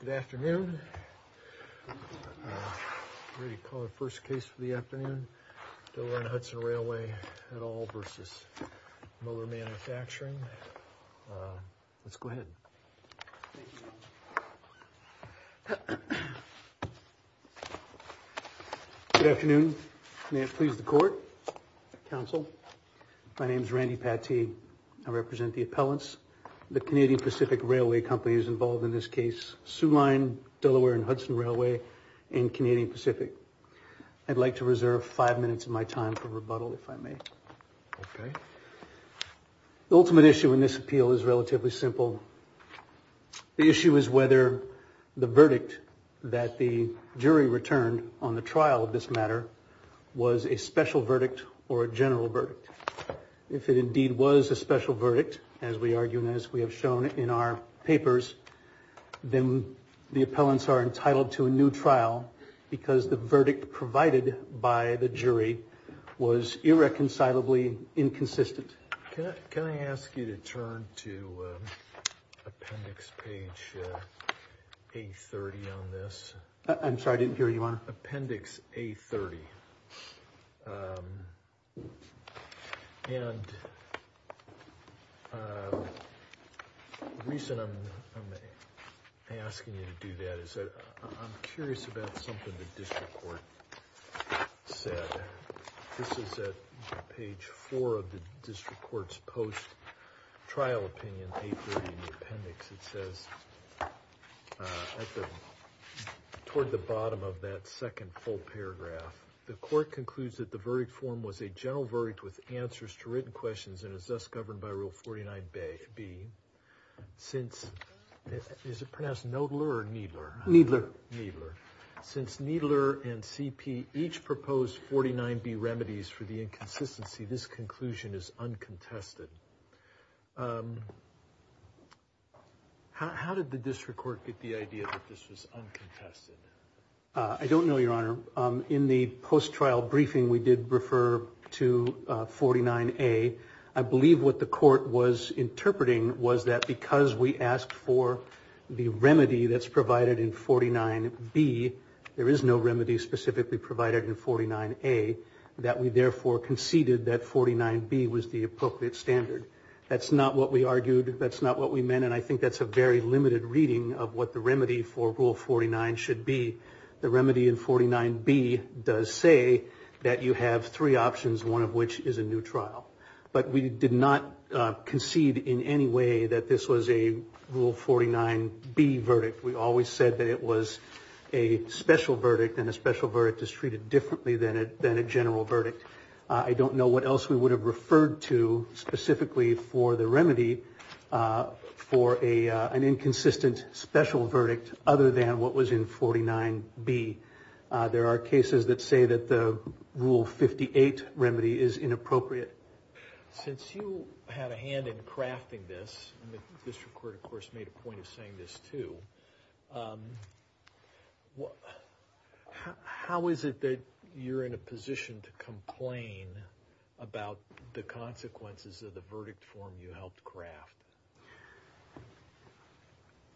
Good afternoon, ready to call the first case for the afternoon, Delaware and Hudson Railway et al. versus Moeller Manufacturing. Let's go ahead. Good afternoon, may it please the committee. I represent the appellants, the Canadian Pacific Railway companies involved in this case, Soo Line, Delaware and Hudson Railway and Canadian Pacific. I'd like to reserve five minutes of my time for rebuttal if I may. The ultimate issue in this appeal is relatively simple. The issue is whether the verdict that the jury returned on the special verdict, as we argue and as we have shown in our papers, then the appellants are entitled to a new trial because the verdict provided by the jury was irreconcilably inconsistent. Can I ask you to turn to appendix page 830 on this? I'm sorry, I didn't hear you on it. Appendix 830. And the reason I'm asking you to do that is that I'm curious about something the district court said. This is at page four of the district court's post-trial opinion paper in the appendix. It says, toward the bottom of that second full paragraph, the court concludes that the verdict form was a general verdict with answers to written questions and is thus governed by rule 49B. Is it pronounced Knoedler or Kneedler? Kneedler. Since Kneedler and CP each proposed 49B remedies for the inconsistency, this conclusion is uncontested. How did the district court get the idea that this was uncontested? I don't know, Your Honor. In the post-trial briefing, we did refer to 49A. I believe what the court was interpreting was that because we asked for the remedy that's provided in 49B, there is no remedy specifically provided in 49A, that we therefore conceded that 49B was the appropriate standard. That's not what we argued, that's not what we meant, and I think that's a very limited reading of what the remedy for rule 49 should be. The remedy in 49B does say that you have three options, one of which is a new trial. But we did not concede in any way that this was a rule 49B verdict. We always said that it was a special verdict, and a special verdict is treated differently than a general verdict. I don't know what else we would have referred to specifically for the remedy for an inconsistent special verdict other than what was in 49B. There are cases that say that the rule 58 remedy is inappropriate. Since you had a hand in crafting this, and the district court of course made a point of saying this too, how is it that you're in a position to complain about the consequences of the I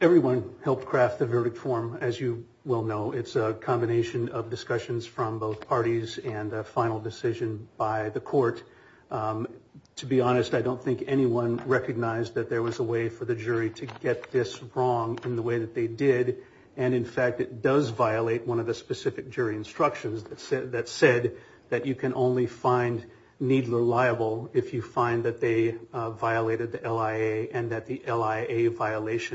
did not craft the verdict form, as you well know. It's a combination of discussions from both parties and a final decision by the court. To be honest, I don't think anyone recognized that there was a way for the jury to get this wrong in the way that they did, and in fact it does violate one of the specific jury instructions that said that you can only find Needler liable if you find that they a violation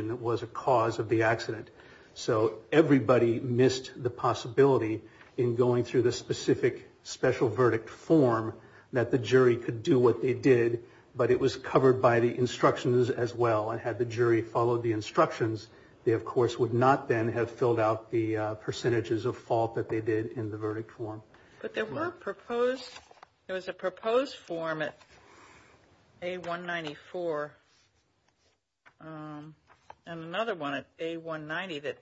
that was a cause of the accident. So everybody missed the possibility in going through the specific special verdict form that the jury could do what they did, but it was covered by the instructions as well, and had the jury followed the instructions, they of course would not then have filled out the percentages of fault that they did in the verdict form. But there were proposed, there was a proposed form at A194, and another one at A190 that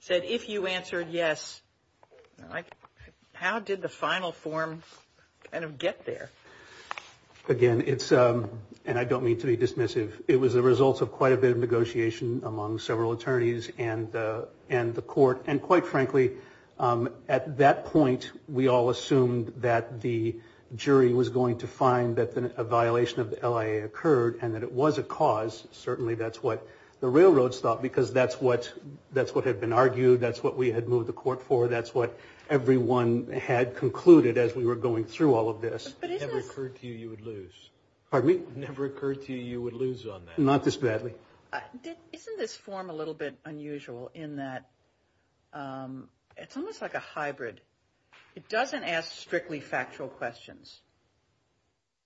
said if you answered yes, how did the final form kind of get there? Again, it's, and I don't mean to be dismissive, it was the result of quite a bit of negotiation among several attorneys and the court, and quite frankly, at that point, we all assumed that the jury was going to find that a violation of the LIA occurred, and that it was a cause, certainly that's what the railroads thought, because that's what had been argued, that's what we had moved the court for, that's what everyone had concluded as we were going through all of this. But isn't this... If it never occurred to you, you would lose. Pardon me? If it never occurred to you, you would lose on that. Not this badly. Isn't this form a little bit unusual in that it's almost like a hybrid. It doesn't ask strictly factual questions,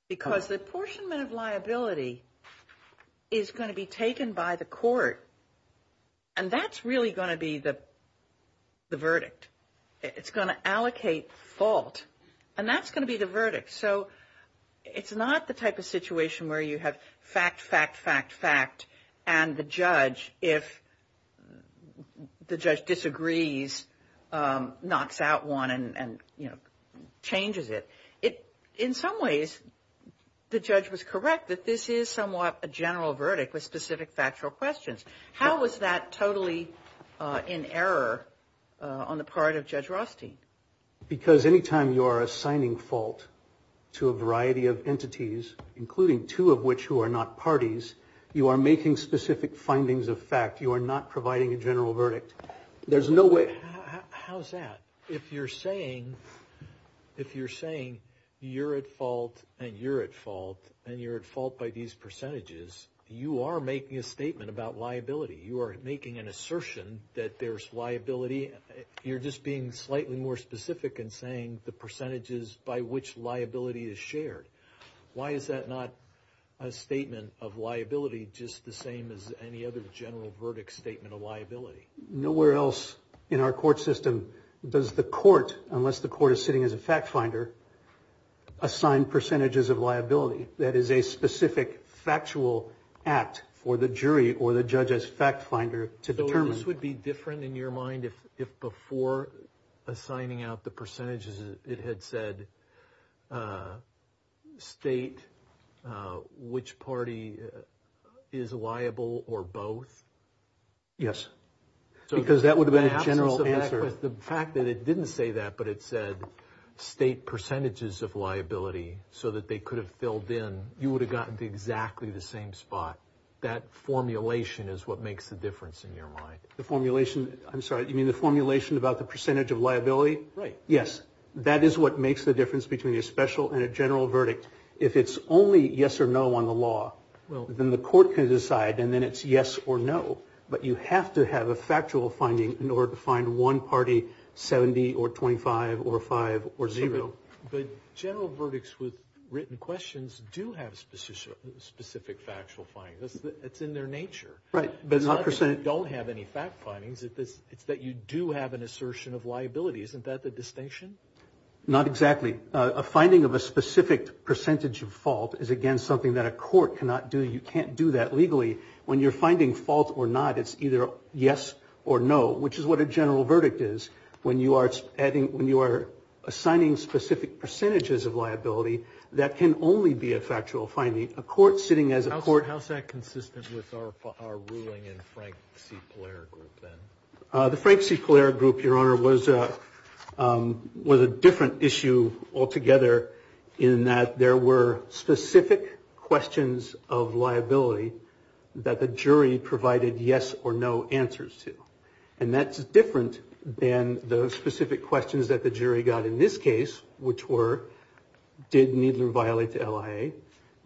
because the apportionment of liability is going to be taken by the court, and that's really going to be the verdict. It's going to allocate fault, and that's going to be the verdict. So it's not the type of situation where you have fact, fact, fact, fact, and the judge, if the judge disagrees, knocks out one and, you know, changes it. In some ways, the judge was correct that this is somewhat a general verdict with specific factual questions. How was that totally in error on the part of Judge Rothstein? Because any time you are assigning fault to a variety of entities, including two of which who are not parties, you are making specific findings of fact. You are not providing a general verdict. There's no way... How's that? If you're saying you're at fault and you're at fault and you're at fault by these percentages, you are making a statement about liability. You are making an assertion that there's liability. You're just being slightly more specific in saying the percentages by which liability is shared. Why is that not a statement of liability just the same as any other general verdict statement of liability? Nowhere else in our court system does the court, unless the court is sitting as a fact finder, assign percentages of liability. That is a specific factual act for the jury or the judge as fact finder to determine. This would be different in your mind if before assigning out the percentages, it had said state which party is liable or both? Yes, because that would have been a general answer. The fact that it didn't say that, but it said state percentages of liability so that they could have filled in, you would have gotten to exactly the same spot. That formulation is what makes the difference in your mind. The formulation, I'm sorry, you mean the formulation about the percentage of liability? Right. Yes. That is what makes the difference between a special and a general verdict. If it's only yes or no on the law, then the court can decide and then it's yes or no. But you have to have a factual finding in order to find one party 70 or 25 or five or zero. But general verdicts with written questions do have specific factual findings. It's in their nature. Right. But it's not that you don't have any fact findings, it's that you do have an assertion of liability. Isn't that the distinction? Not exactly. A finding of a specific percentage of fault is, again, something that a court cannot do. You can't do that legally. When you're finding fault or not, it's either yes or no, which is what a general verdict is. When you are assigning specific percentages of liability, that can only be a factual finding. A court sitting as a court... How is that consistent with our ruling in Frank C. Polera Group then? The Frank C. Polera Group, Your Honor, was a different issue altogether in that there were specific questions of liability that the jury provided yes or no answers to. And that's different than the specific questions that the jury got in this case, which were, did Needler violate the LIA?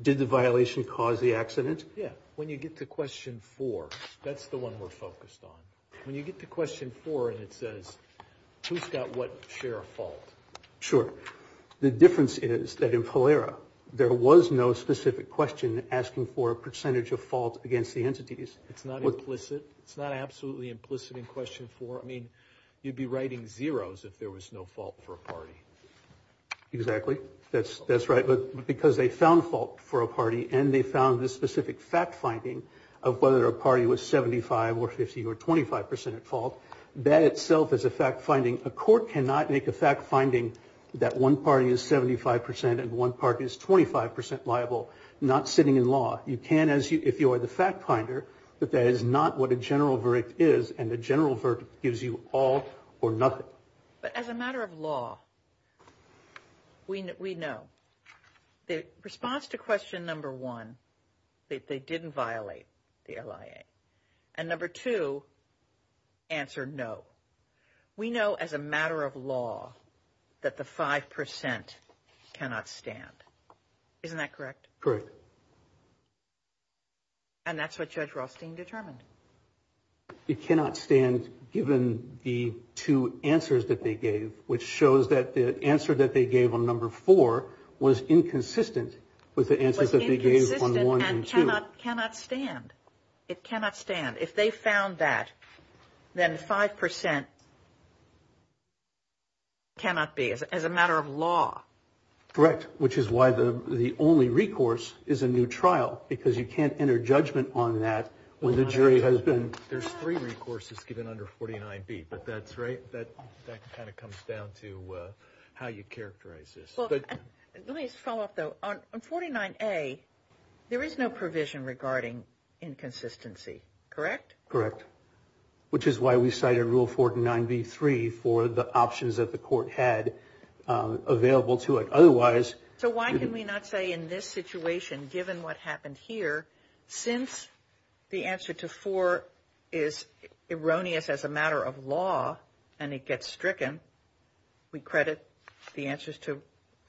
Did the violation cause the accident? Yeah. When you get to question four, that's the one we're focused on. When you get to question four and it says, who's got what share of fault? Sure. The difference is that in Polera, there was no specific question asking for a percentage of fault against the entities. It's not implicit. It's not absolutely implicit in question four. I mean, you'd be writing zeros if there was no fault for a party. Exactly. That's right. But because they found fault for a party and they found this specific fact-finding of whether a party was 75 or 50 or 25% at fault, that itself is a fact-finding. A court cannot make a fact-finding that one party is 75% and one party is 25% liable, not sitting in law. You can, if you are the fact-finder, that that is not what a general verdict is, and a general verdict gives you all or nothing. But as a matter of law, we know the response to question number one, that they didn't violate the LIA, and number two, answer no. We know as a matter of law that the 5% cannot stand. Isn't that correct? Correct. And that's what Judge Rothstein determined. It cannot stand given the two answers that they gave, which shows that the answer that they gave on number four was inconsistent with the answers that they gave on one and two. It was inconsistent and cannot stand. It cannot stand. If they found that, then 5% cannot be, as a matter of law. Correct. Which is why the only recourse is a new trial. Because you can't enter judgment on that when the jury has been... There's three recourses given under 49B, but that's right. That kind of comes down to how you characterize this. Let me just follow up, though. On 49A, there is no provision regarding inconsistency, correct? Correct. Which is why we cited Rule 49B-3 for the options that the court had available to it. So why can we not say in this situation, given what happened here, since the answer to four is erroneous as a matter of law and it gets stricken, we credit the answers to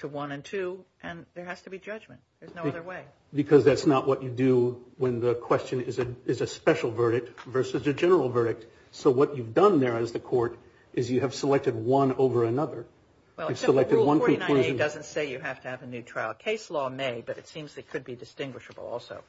one and two, and there has to be judgment. There's no other way. Because that's not what you do when the question is a special verdict versus a general verdict. So what you've done there as the court is you have selected one over another. Well, Rule 49A doesn't say you have to have a new trial. Case law may, but it seems it could be distinguishable also.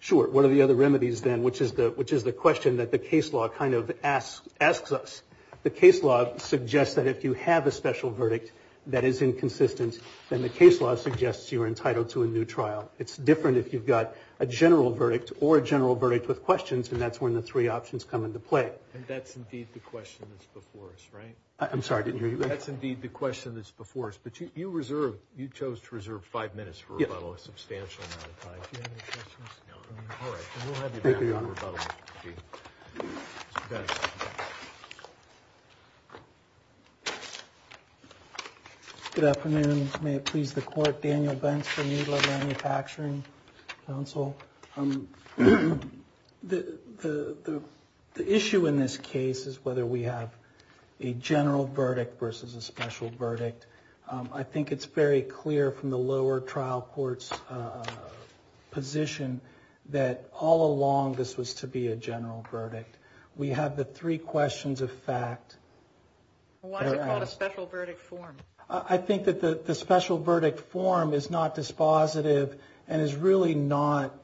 Sure. What are the other remedies then, which is the question that the case law kind of asks us? The case law suggests that if you have a special verdict that is inconsistent, then the case law suggests you are entitled to a new trial. It's different if you've got a general verdict or a general verdict with questions, and that's when the three options come into play. And that's indeed the question that's before us, right? I'm sorry, didn't hear you. That's indeed the question that's before us. But you reserved, you chose to reserve five minutes for rebuttal, a substantial amount of time. Do you have any questions? No. All right, then we'll have you back on rebuttal. Good afternoon. May it please the court. Daniel Benz from Needler Manufacturing Council. The issue in this case is whether we have a general verdict versus a special verdict. I think it's very clear from the lower trial court's position that all along this was to be a general verdict. We have the three questions of fact. Why is it called a special verdict form? I think that the special verdict form is not dispositive and is really not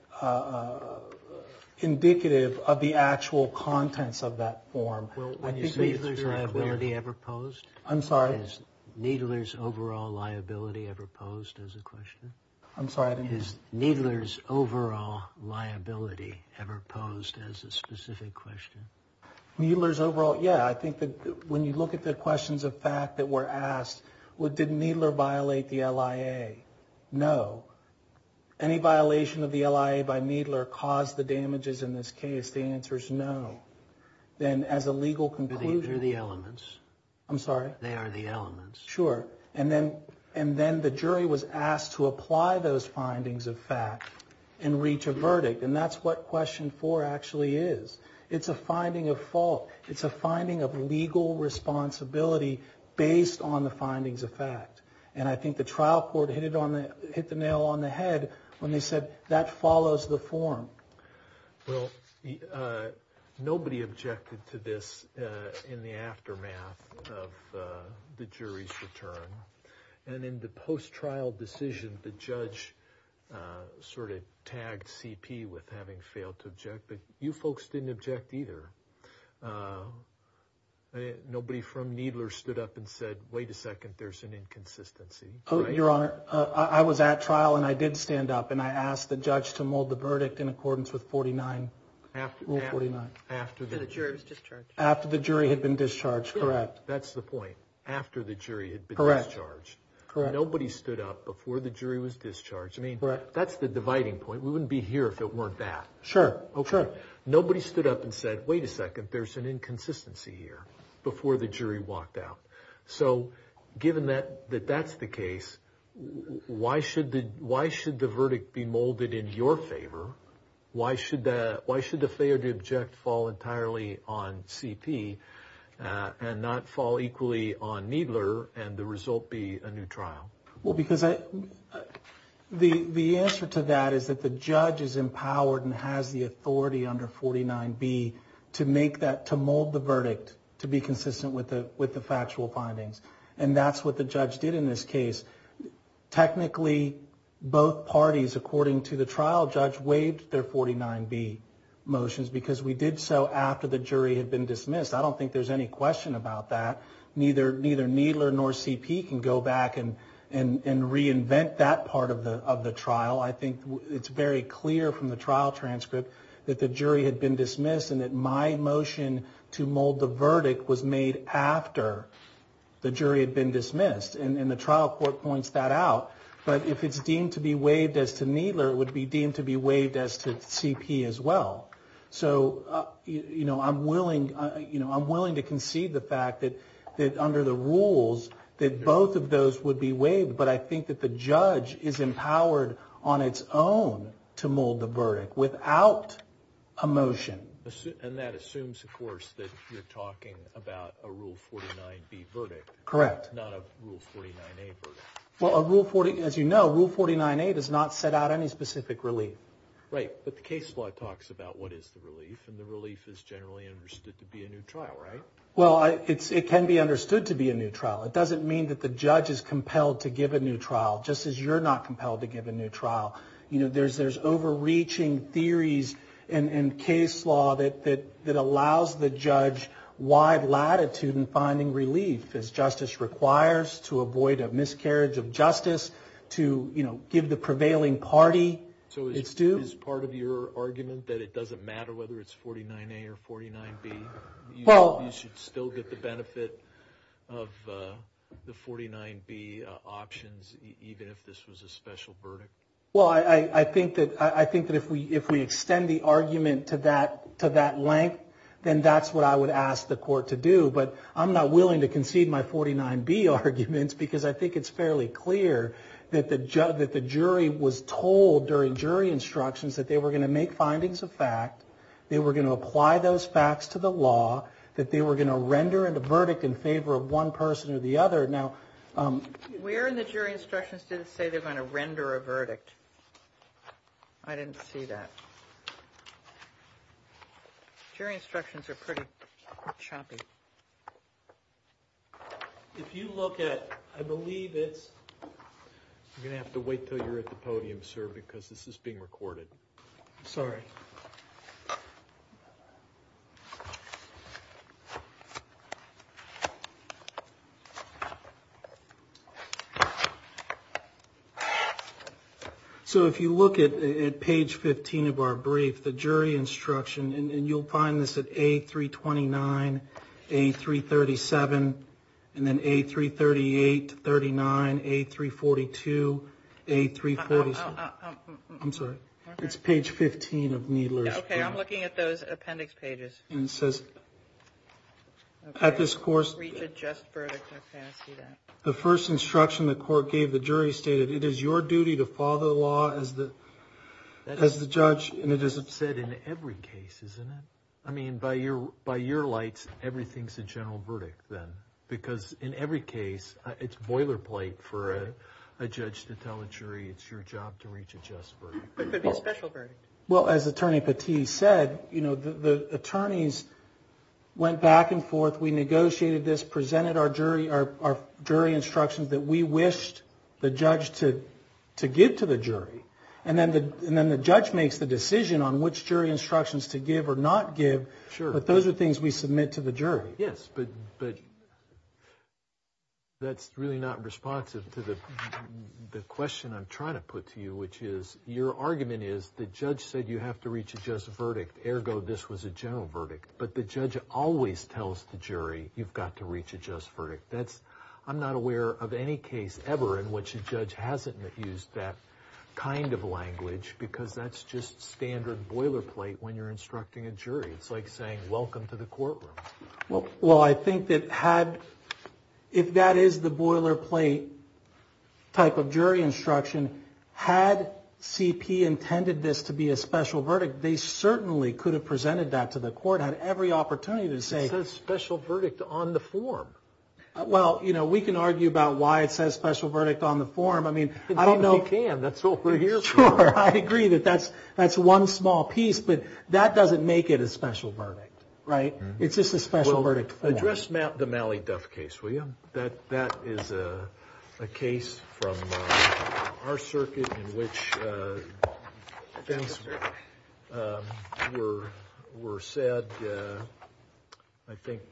indicative of the actual contents of that form. Well, is Needler's liability ever posed? I'm sorry? Is Needler's overall liability ever posed as a question? I'm sorry? Is Needler's overall liability ever posed as a specific question? Needler's overall, yeah. I think that when you look at the questions of fact that were asked, well, did Needler violate the LIA? No. Any violation of the LIA by Needler caused the damages in this case? The answer is no. Then as a legal conclusion. They're the elements. I'm sorry? They are the elements. Sure. And then the jury was asked to apply those findings of fact and reach a verdict. And that's what question four actually is. It's a finding of fault. It's a finding of legal responsibility based on the findings of fact. And I think the trial court hit the nail on the head when they said that follows the form. Well, nobody objected to this in the aftermath of the jury's return. And in the post-trial decision, the judge sort of tagged CP with having failed to object. But you folks didn't object either. Nobody from Needler stood up and said, wait a second, there's an inconsistency. Your Honor, I was at trial and I did stand up and I asked the judge to mold the verdict in accordance with 49, Rule 49. After the jury was discharged. After the jury had been discharged. Correct. That's the point. After the jury had been discharged. Correct. Nobody stood up before the jury was discharged. I mean, that's the dividing point. We wouldn't be here if it weren't that. Sure. Okay. Nobody stood up and said, wait a second, there's an inconsistency here before the jury walked out. So given that, that that's the case, why should the, why should the verdict be molded in your favor? Why should that, why should the failure to object fall entirely on CP and not fall equally on Needler and the result be a new trial? Well, because the, the answer to that is that the judge is empowered and has the authority under 49B to make that, to mold the verdict, to be consistent with the, with the factual findings. And that's what the judge did in this case. Technically, both parties, according to the trial judge, waived their 49B motions because we did so after the jury had been dismissed. I don't think there's any question about that. Neither, neither Needler nor CP can go back and, and, and reinvent that part of the, of the trial. I think it's very clear from the trial transcript that the jury had been dismissed and that my motion to mold the verdict was made after the jury had been dismissed. And, and the trial court points that out, but if it's deemed to be waived as to Needler, it would be deemed to be waived as to CP as well. So, you know, I'm willing, you know, I'm willing to concede the fact that, that under the rules, that both of those would be waived. But I think that the judge is empowered on its own to mold the verdict without a motion. And that assumes, of course, that you're talking about a Rule 49B verdict. Correct. Not a Rule 49A verdict. Well, a Rule 40, as you know, Rule 49A does not set out any specific relief. Right, but the case law talks about what is the relief, and the relief is generally understood to be a new trial, right? Well, it's, it can be understood to be a new trial. It doesn't mean that the judge is compelled to give a new trial, just as you're not compelled to give a new trial. You know, there's, there's overreaching theories in, in case law that, that, that allows the judge wide latitude in finding relief, as justice requires, to avoid a miscarriage of justice, to, you know, give the prevailing party. So is, is part of your argument that it doesn't matter whether it's 49A or 49B? Well. You should still get the benefit of the 49B options, even if this was a special verdict? Well, I, I think that, I think that if we, if we extend the argument to that, to that length, then that's what I would ask the court to do. But I'm not willing to concede my 49B arguments, because I think it's fairly clear that the judge, that the jury was told during jury instructions that they were going to make findings of fact, they were going to apply those facts to the law, that they were going to render a verdict in favor of one person or the other. Now, where in the jury instructions did it say they're going to render a verdict? I didn't see that. Jury instructions are pretty choppy. If you look at, I believe it's, you're going to have to wait till you're at the podium, sir, because this is being recorded. Sorry. So if you look at page 15 of our brief, the jury instruction, and you'll find this at A329, A337, and then A338, 39, A342, A347. I'm sorry. It's page 15 of Needler's. Okay, I'm looking at those appendix pages. And it says, at this course, the first instruction the court gave the jury stated, it is your duty to follow the law as the judge, and it is said in every case, isn't it? I mean, by your lights, everything's a general verdict then, because in every case, it's boilerplate for a judge to tell a jury, it's your job to reach a just verdict. But the special verdict. Well, as Attorney Patee said, you know, the attorneys went back and forth. We negotiated this, presented our jury instructions that we wished the judge to give to the jury. And then the judge makes the decision on which jury instructions to give or not give. Sure. But those are things we submit to the jury. Yes, but that's really not responsive to the question I'm trying to put to you, which is your argument is the judge said you have to reach a just verdict, ergo, this was a general verdict. But the judge always tells the jury, you've got to reach a just verdict. That's I'm not aware of any case ever in which a judge hasn't used that kind of language, because that's just standard boilerplate when you're instructing a jury. It's like saying, welcome to the courtroom. Well, well, I think that had, if that is the boilerplate type of jury instruction, had CP intended this to be a special verdict, they certainly could have presented that to the court, had every opportunity to say. It says special verdict on the form. Well, you know, we can argue about why it says special verdict on the form. I mean, I don't know. We can, that's what we're here for. Sure, I agree that that's, that's one small piece, but that doesn't make it a special verdict, right? It's just a special verdict. Address the Malley-Duff case, will you? That is a case from our circuit in which things were said, I think,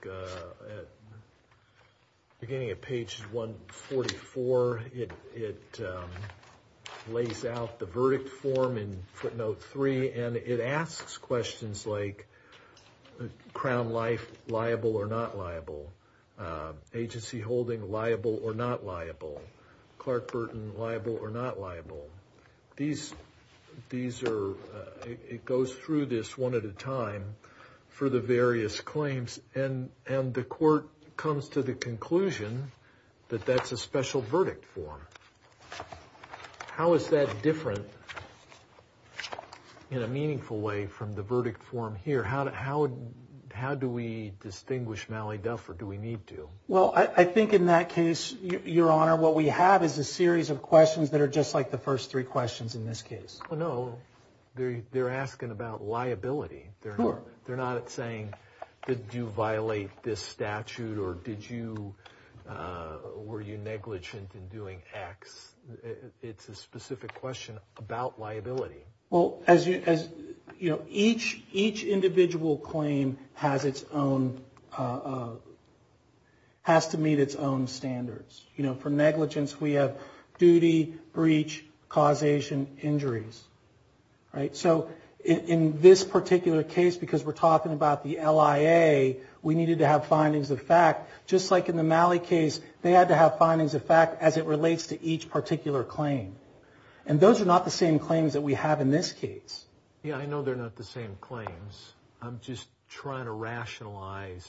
beginning at page 144, it lays out the verdict form in footnote three, and it asks questions like, crown life liable or not liable, agency holding liable or not liable, Clark Burton liable or not liable. These, these are, it goes through this one at a time for the various claims, and the court comes to the conclusion that that's a special verdict form. How is that different in a meaningful way from the verdict form here? How, how, how do we distinguish Malley-Duff or do we need to? Well, I think in that case, your honor, what we have is a series of questions that are just like the first three questions in this case. Oh, no. They're, they're asking about liability. They're not, they're not saying, did you violate this statute or did you, were you negligent in doing X? It's a specific question about liability. Well, as you, as you know, each, each individual claim has its own, has to meet its own standards. You know, for negligence, we have duty, breach, causation, injuries, right? So in this particular case, because we're talking about the LIA, we needed to have findings of fact, just like in the Malley case, they had to have findings of fact as it relates to each particular claim. And those are not the same claims that we have in this case. Yeah, I know they're not the same claims. I'm just trying to rationalize.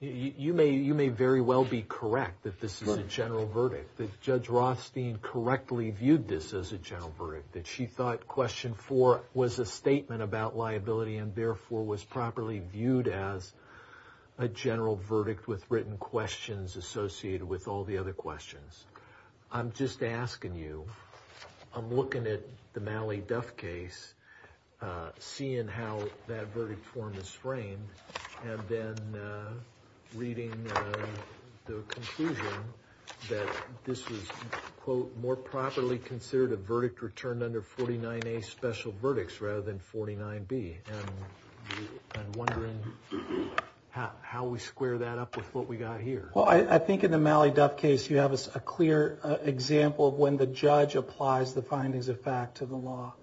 You may, you may very well be correct that this is a general verdict, that Judge Rothstein correctly viewed this as a general verdict, that she thought question four was a statement about liability and therefore was properly viewed as a general verdict with written questions associated with all the other questions. I'm just asking you, I'm looking at the Malley-Duff case, seeing how that verdict form is framed, and then reading the conclusion that this was, quote, more properly considered a verdict returned under 49A special verdicts rather than 49B, and I'm wondering how we square that up with what we got here. Well, I think in the Malley-Duff case, you have a clear example of when the judge applies the findings of fact to the law,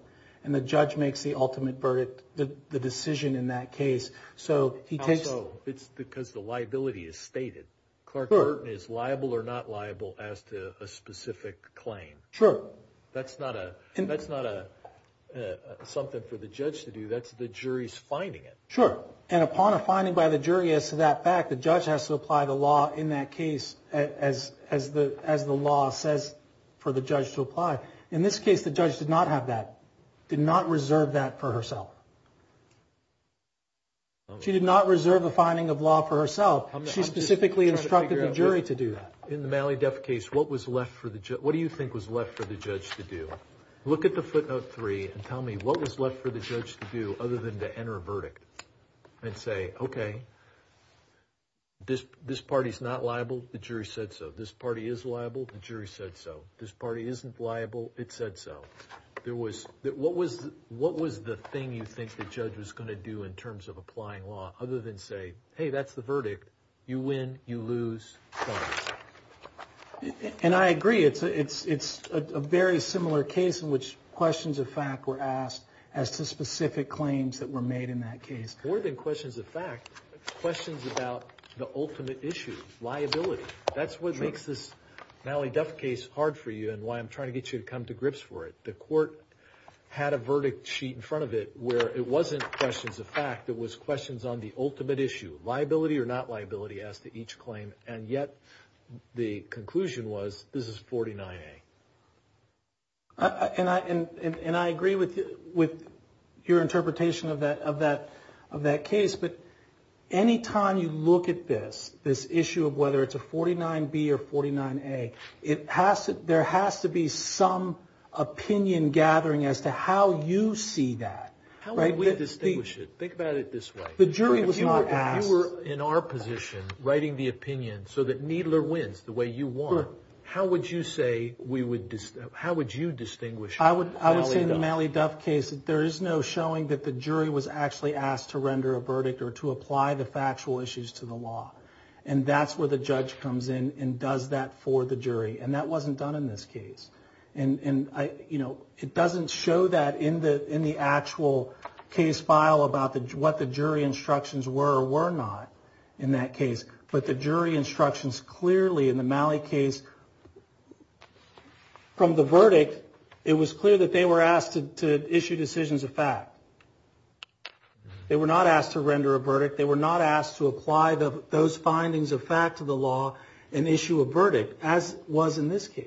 and the judge makes the ultimate verdict, the decision in that case, so he takes... Also, it's because the liability is stated. Clark Burton is liable or not liable as to a specific claim. Sure. That's not a, that's not a, something for the judge to do, that's the jury's finding it. Sure. And upon a finding by the jury as to that fact, the judge has to apply the law in that case as the law says for the judge to apply. In this case, the judge did not have that, did not reserve that for herself. She did not reserve a finding of law for herself, she specifically instructed the jury to do that. In the Malley-Duff case, what was left for the judge, what do you think was left for the judge to do? Look at the footnote three and tell me what was left for the judge to do other than to enter a verdict? And say, okay, this party's not liable, the jury said so. This party is liable, the jury said so. This party isn't liable, it said so. There was, what was the thing you think the judge was going to do in terms of applying law other than say, hey, that's the verdict, you win, you lose. And I agree, it's a very similar case in which questions of fact were asked as to specific claims that were made in that case. More than questions of fact, questions about the ultimate issue, liability. That's what makes this Malley-Duff case hard for you and why I'm trying to get you to come to grips for it. The court had a verdict sheet in front of it where it wasn't questions of fact, it was questions on the ultimate issue. Liability or not liability as to each claim. And yet, the conclusion was, this is 49A. And I agree with your interpretation of that case, but any time you look at this, this issue of whether it's a 49B or 49A, there has to be some opinion gathering as to how you see that. How would we distinguish it? Think about it this way. The jury was not asked. If you were in our position, writing the opinion so that Needler wins the way you want, how would you say we would, how would you distinguish it? I would say in the Malley-Duff case, there is no showing that the jury was actually asked to render a verdict or to apply the factual issues to the law. And that's where the judge comes in and does that for the jury. And that wasn't done in this case. And, you know, it doesn't show that in the actual case file about what the jury instructions were or were not in that case. But the jury instructions clearly in the Malley case, from the verdict, it was clear that they were asked to issue decisions of fact. They were not asked to render a verdict. They were not asked to apply those findings of fact to the law and issue a verdict, as was in this case.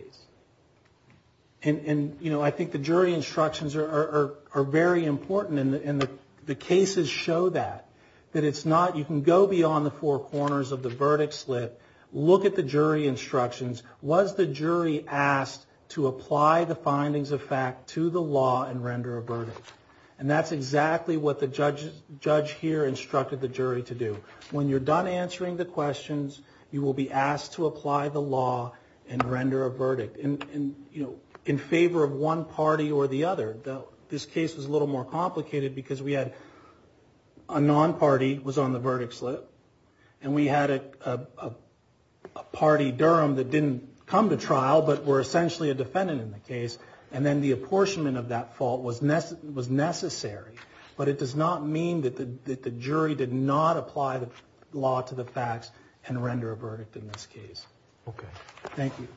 And, you know, I think the jury instructions are very important. And the cases show that, that it's not, you can go beyond the four corners of the verdict slit, look at the jury instructions. Was the jury asked to apply the findings of fact to the law and render a verdict? And that's exactly what the judge here instructed the jury to do. When you're done answering the questions, you will be asked to apply the law and render a verdict. And, you know, in favor of one party or the other, though, this case was a little more complicated because we had a non-party was on the verdict slit. And we had a party Durham that didn't come to trial, but were essentially a defendant in the case. And then the apportionment of that fault was necessary. But it does not mean that the jury did not apply the law to the facts and render a verdict in this case. OK, thank you.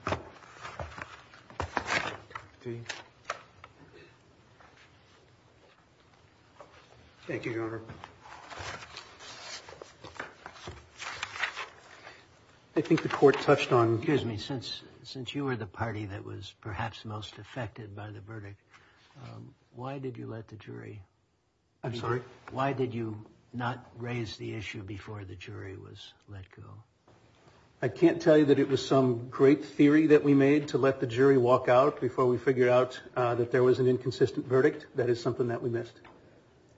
Thank you, Your Honor. I think the court touched on. Excuse me, since since you were the party that was perhaps most affected by the verdict, why did you let the jury. I'm sorry. Why did you not raise the issue before the jury was let go? I can't tell you that it was some great theory that we made to let the jury walk out before we figured out that there was an inconsistent verdict. That is something that we missed.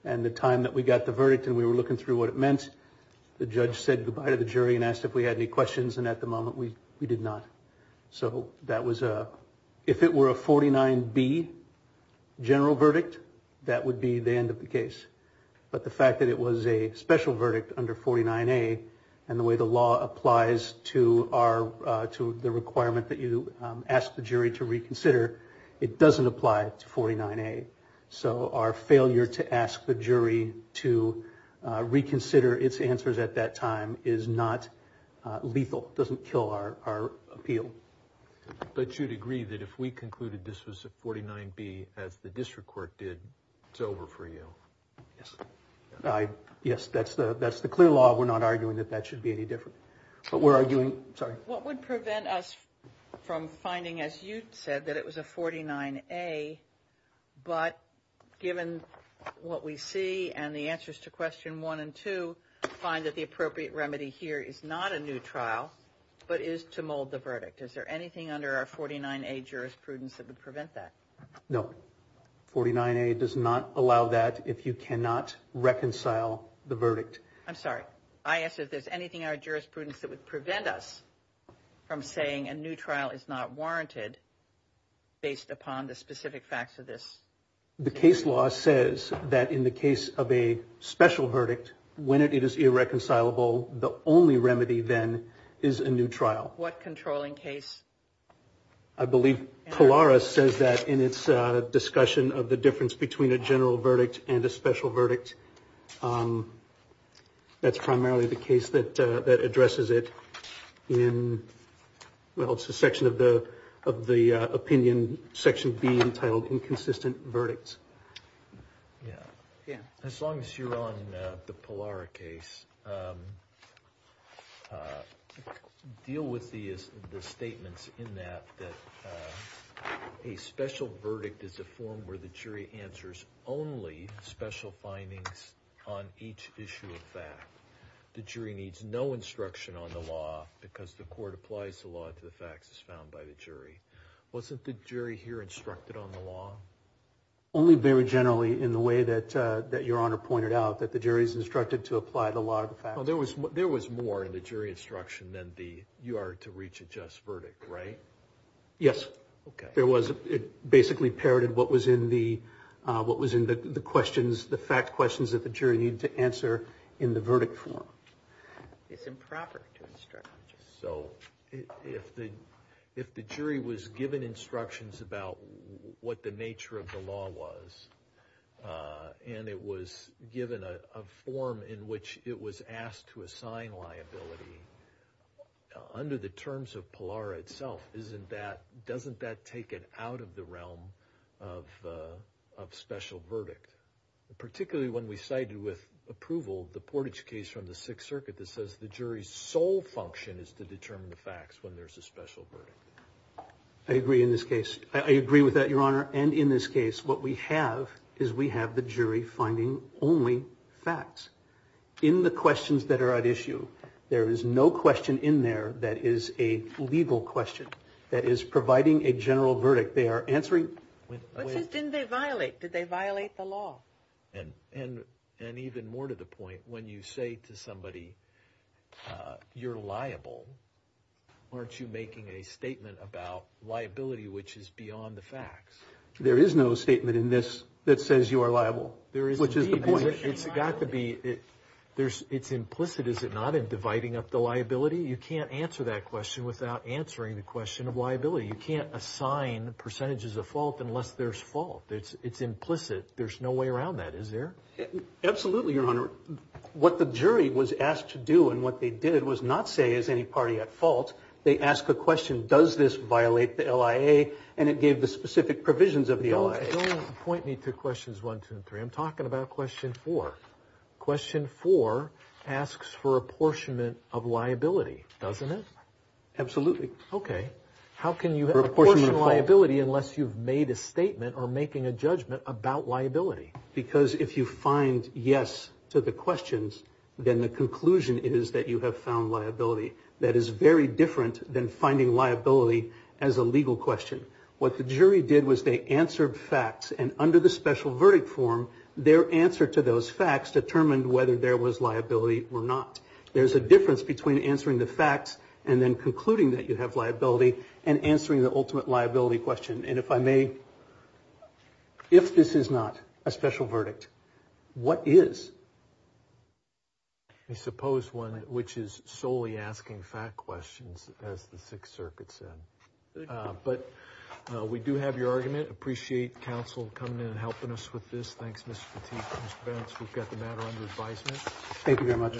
And the time that we got the verdict and we were looking through what it meant, the judge said goodbye to the jury and asked if we had any questions. And at the moment we we did not. So that was a if it were a forty nine B general verdict, that would be the end of the case. But the fact that it was a special verdict under forty nine A and the way the law applies to our to the requirement that you ask the jury to reconsider, it doesn't apply to forty nine A. So our failure to ask the jury to reconsider its answers at that time is not lethal, doesn't kill our appeal. But you'd agree that if we concluded this was a forty nine B as the district court did, it's over for you. Yes. Yes. That's the that's the clear law. We're not arguing that that should be any different. But we're arguing what would prevent us from finding, as you said, that it was a forty nine A. But given what we see and the answers to question one and two, find that the appropriate remedy here is not a new trial, but is to mold the verdict. Is there anything under our forty nine A jurisprudence that would prevent that? No. Forty nine A does not allow that if you cannot reconcile the verdict. I'm sorry. I asked if there's anything our jurisprudence that would prevent us from saying a new trial is not warranted based upon the specific facts of this. The case law says that in the case of a special verdict, when it is irreconcilable, the only remedy then is a new trial. What controlling case? I believe Polaris says that in its discussion of the difference between a general verdict and a special verdict, that's primarily the case that that addresses it in. Well, it's a section of the of the opinion section being entitled inconsistent verdicts. Yeah. Yeah. As long as you're on the Polaris case, deal with the statements in that that a special verdict is a form where the jury answers only special findings on each issue of fact. The jury needs no instruction on the law because the court applies the law to the facts as found by the jury. Wasn't the jury here instructed on the law? Only very generally in the way that that your honor pointed out that the jury is instructed to apply the law to the facts. There was there was more in the jury instruction than the you are to reach a just verdict, right? Yes. OK, there was. It basically parroted what was in the what was in the questions, the fact questions that the jury need to answer in the verdict form. It's improper to instruct. So if the if the jury was given instructions about what the nature of the law was and it was given a form in which it was asked to assign liability under the terms of Polaris itself, isn't that doesn't that take it out of the realm of of special verdict? Particularly when we cited with approval the Portage case from the Sixth Circuit that says the jury's sole function is to determine the facts when there's a special verdict. I agree in this case. I agree with that, your honor. And in this case, what we have is we have the jury finding only facts in the questions that are at issue. There is no question in there that is a legal question that is providing a general verdict. They are answering. When they violate, did they violate the law? And and and even more to the point, when you say to somebody you're liable, aren't you making a statement about liability, which is beyond the facts? There is no statement in this that says you are liable. There is. Which is the point it's got to be. There's it's implicit, is it not, in dividing up the liability? You can't answer that question without answering the question of liability. You can't assign percentages of fault unless there's fault. It's it's implicit. There's no way around that, is there? Absolutely, your honor. What the jury was asked to do and what they did was not say, is any party at fault? They ask a question. Does this violate the LIA? And it gave the specific provisions of the point. Need two questions. One, two, three. I'm talking about question for question for asks for apportionment of liability, doesn't it? Absolutely. OK. How can you have a portion of liability unless you've made a statement or making a judgment about liability? Because if you find yes to the questions, then the conclusion is that you have found liability. That is very different than finding liability as a legal question. What the jury did was they answered facts and under the special verdict form, their answer to those facts determined whether there was liability or not. There's a difference between answering the facts and then concluding that you have liability and answering the ultimate liability question. And if I may, if this is not a special verdict, what is? I suppose one which is solely asking fact questions, as the Sixth Circuit said, but we do have your argument. Appreciate counsel coming in and helping us with this. Thanks, Mr. Petit. We've got the matter under advisement. Thank you very much.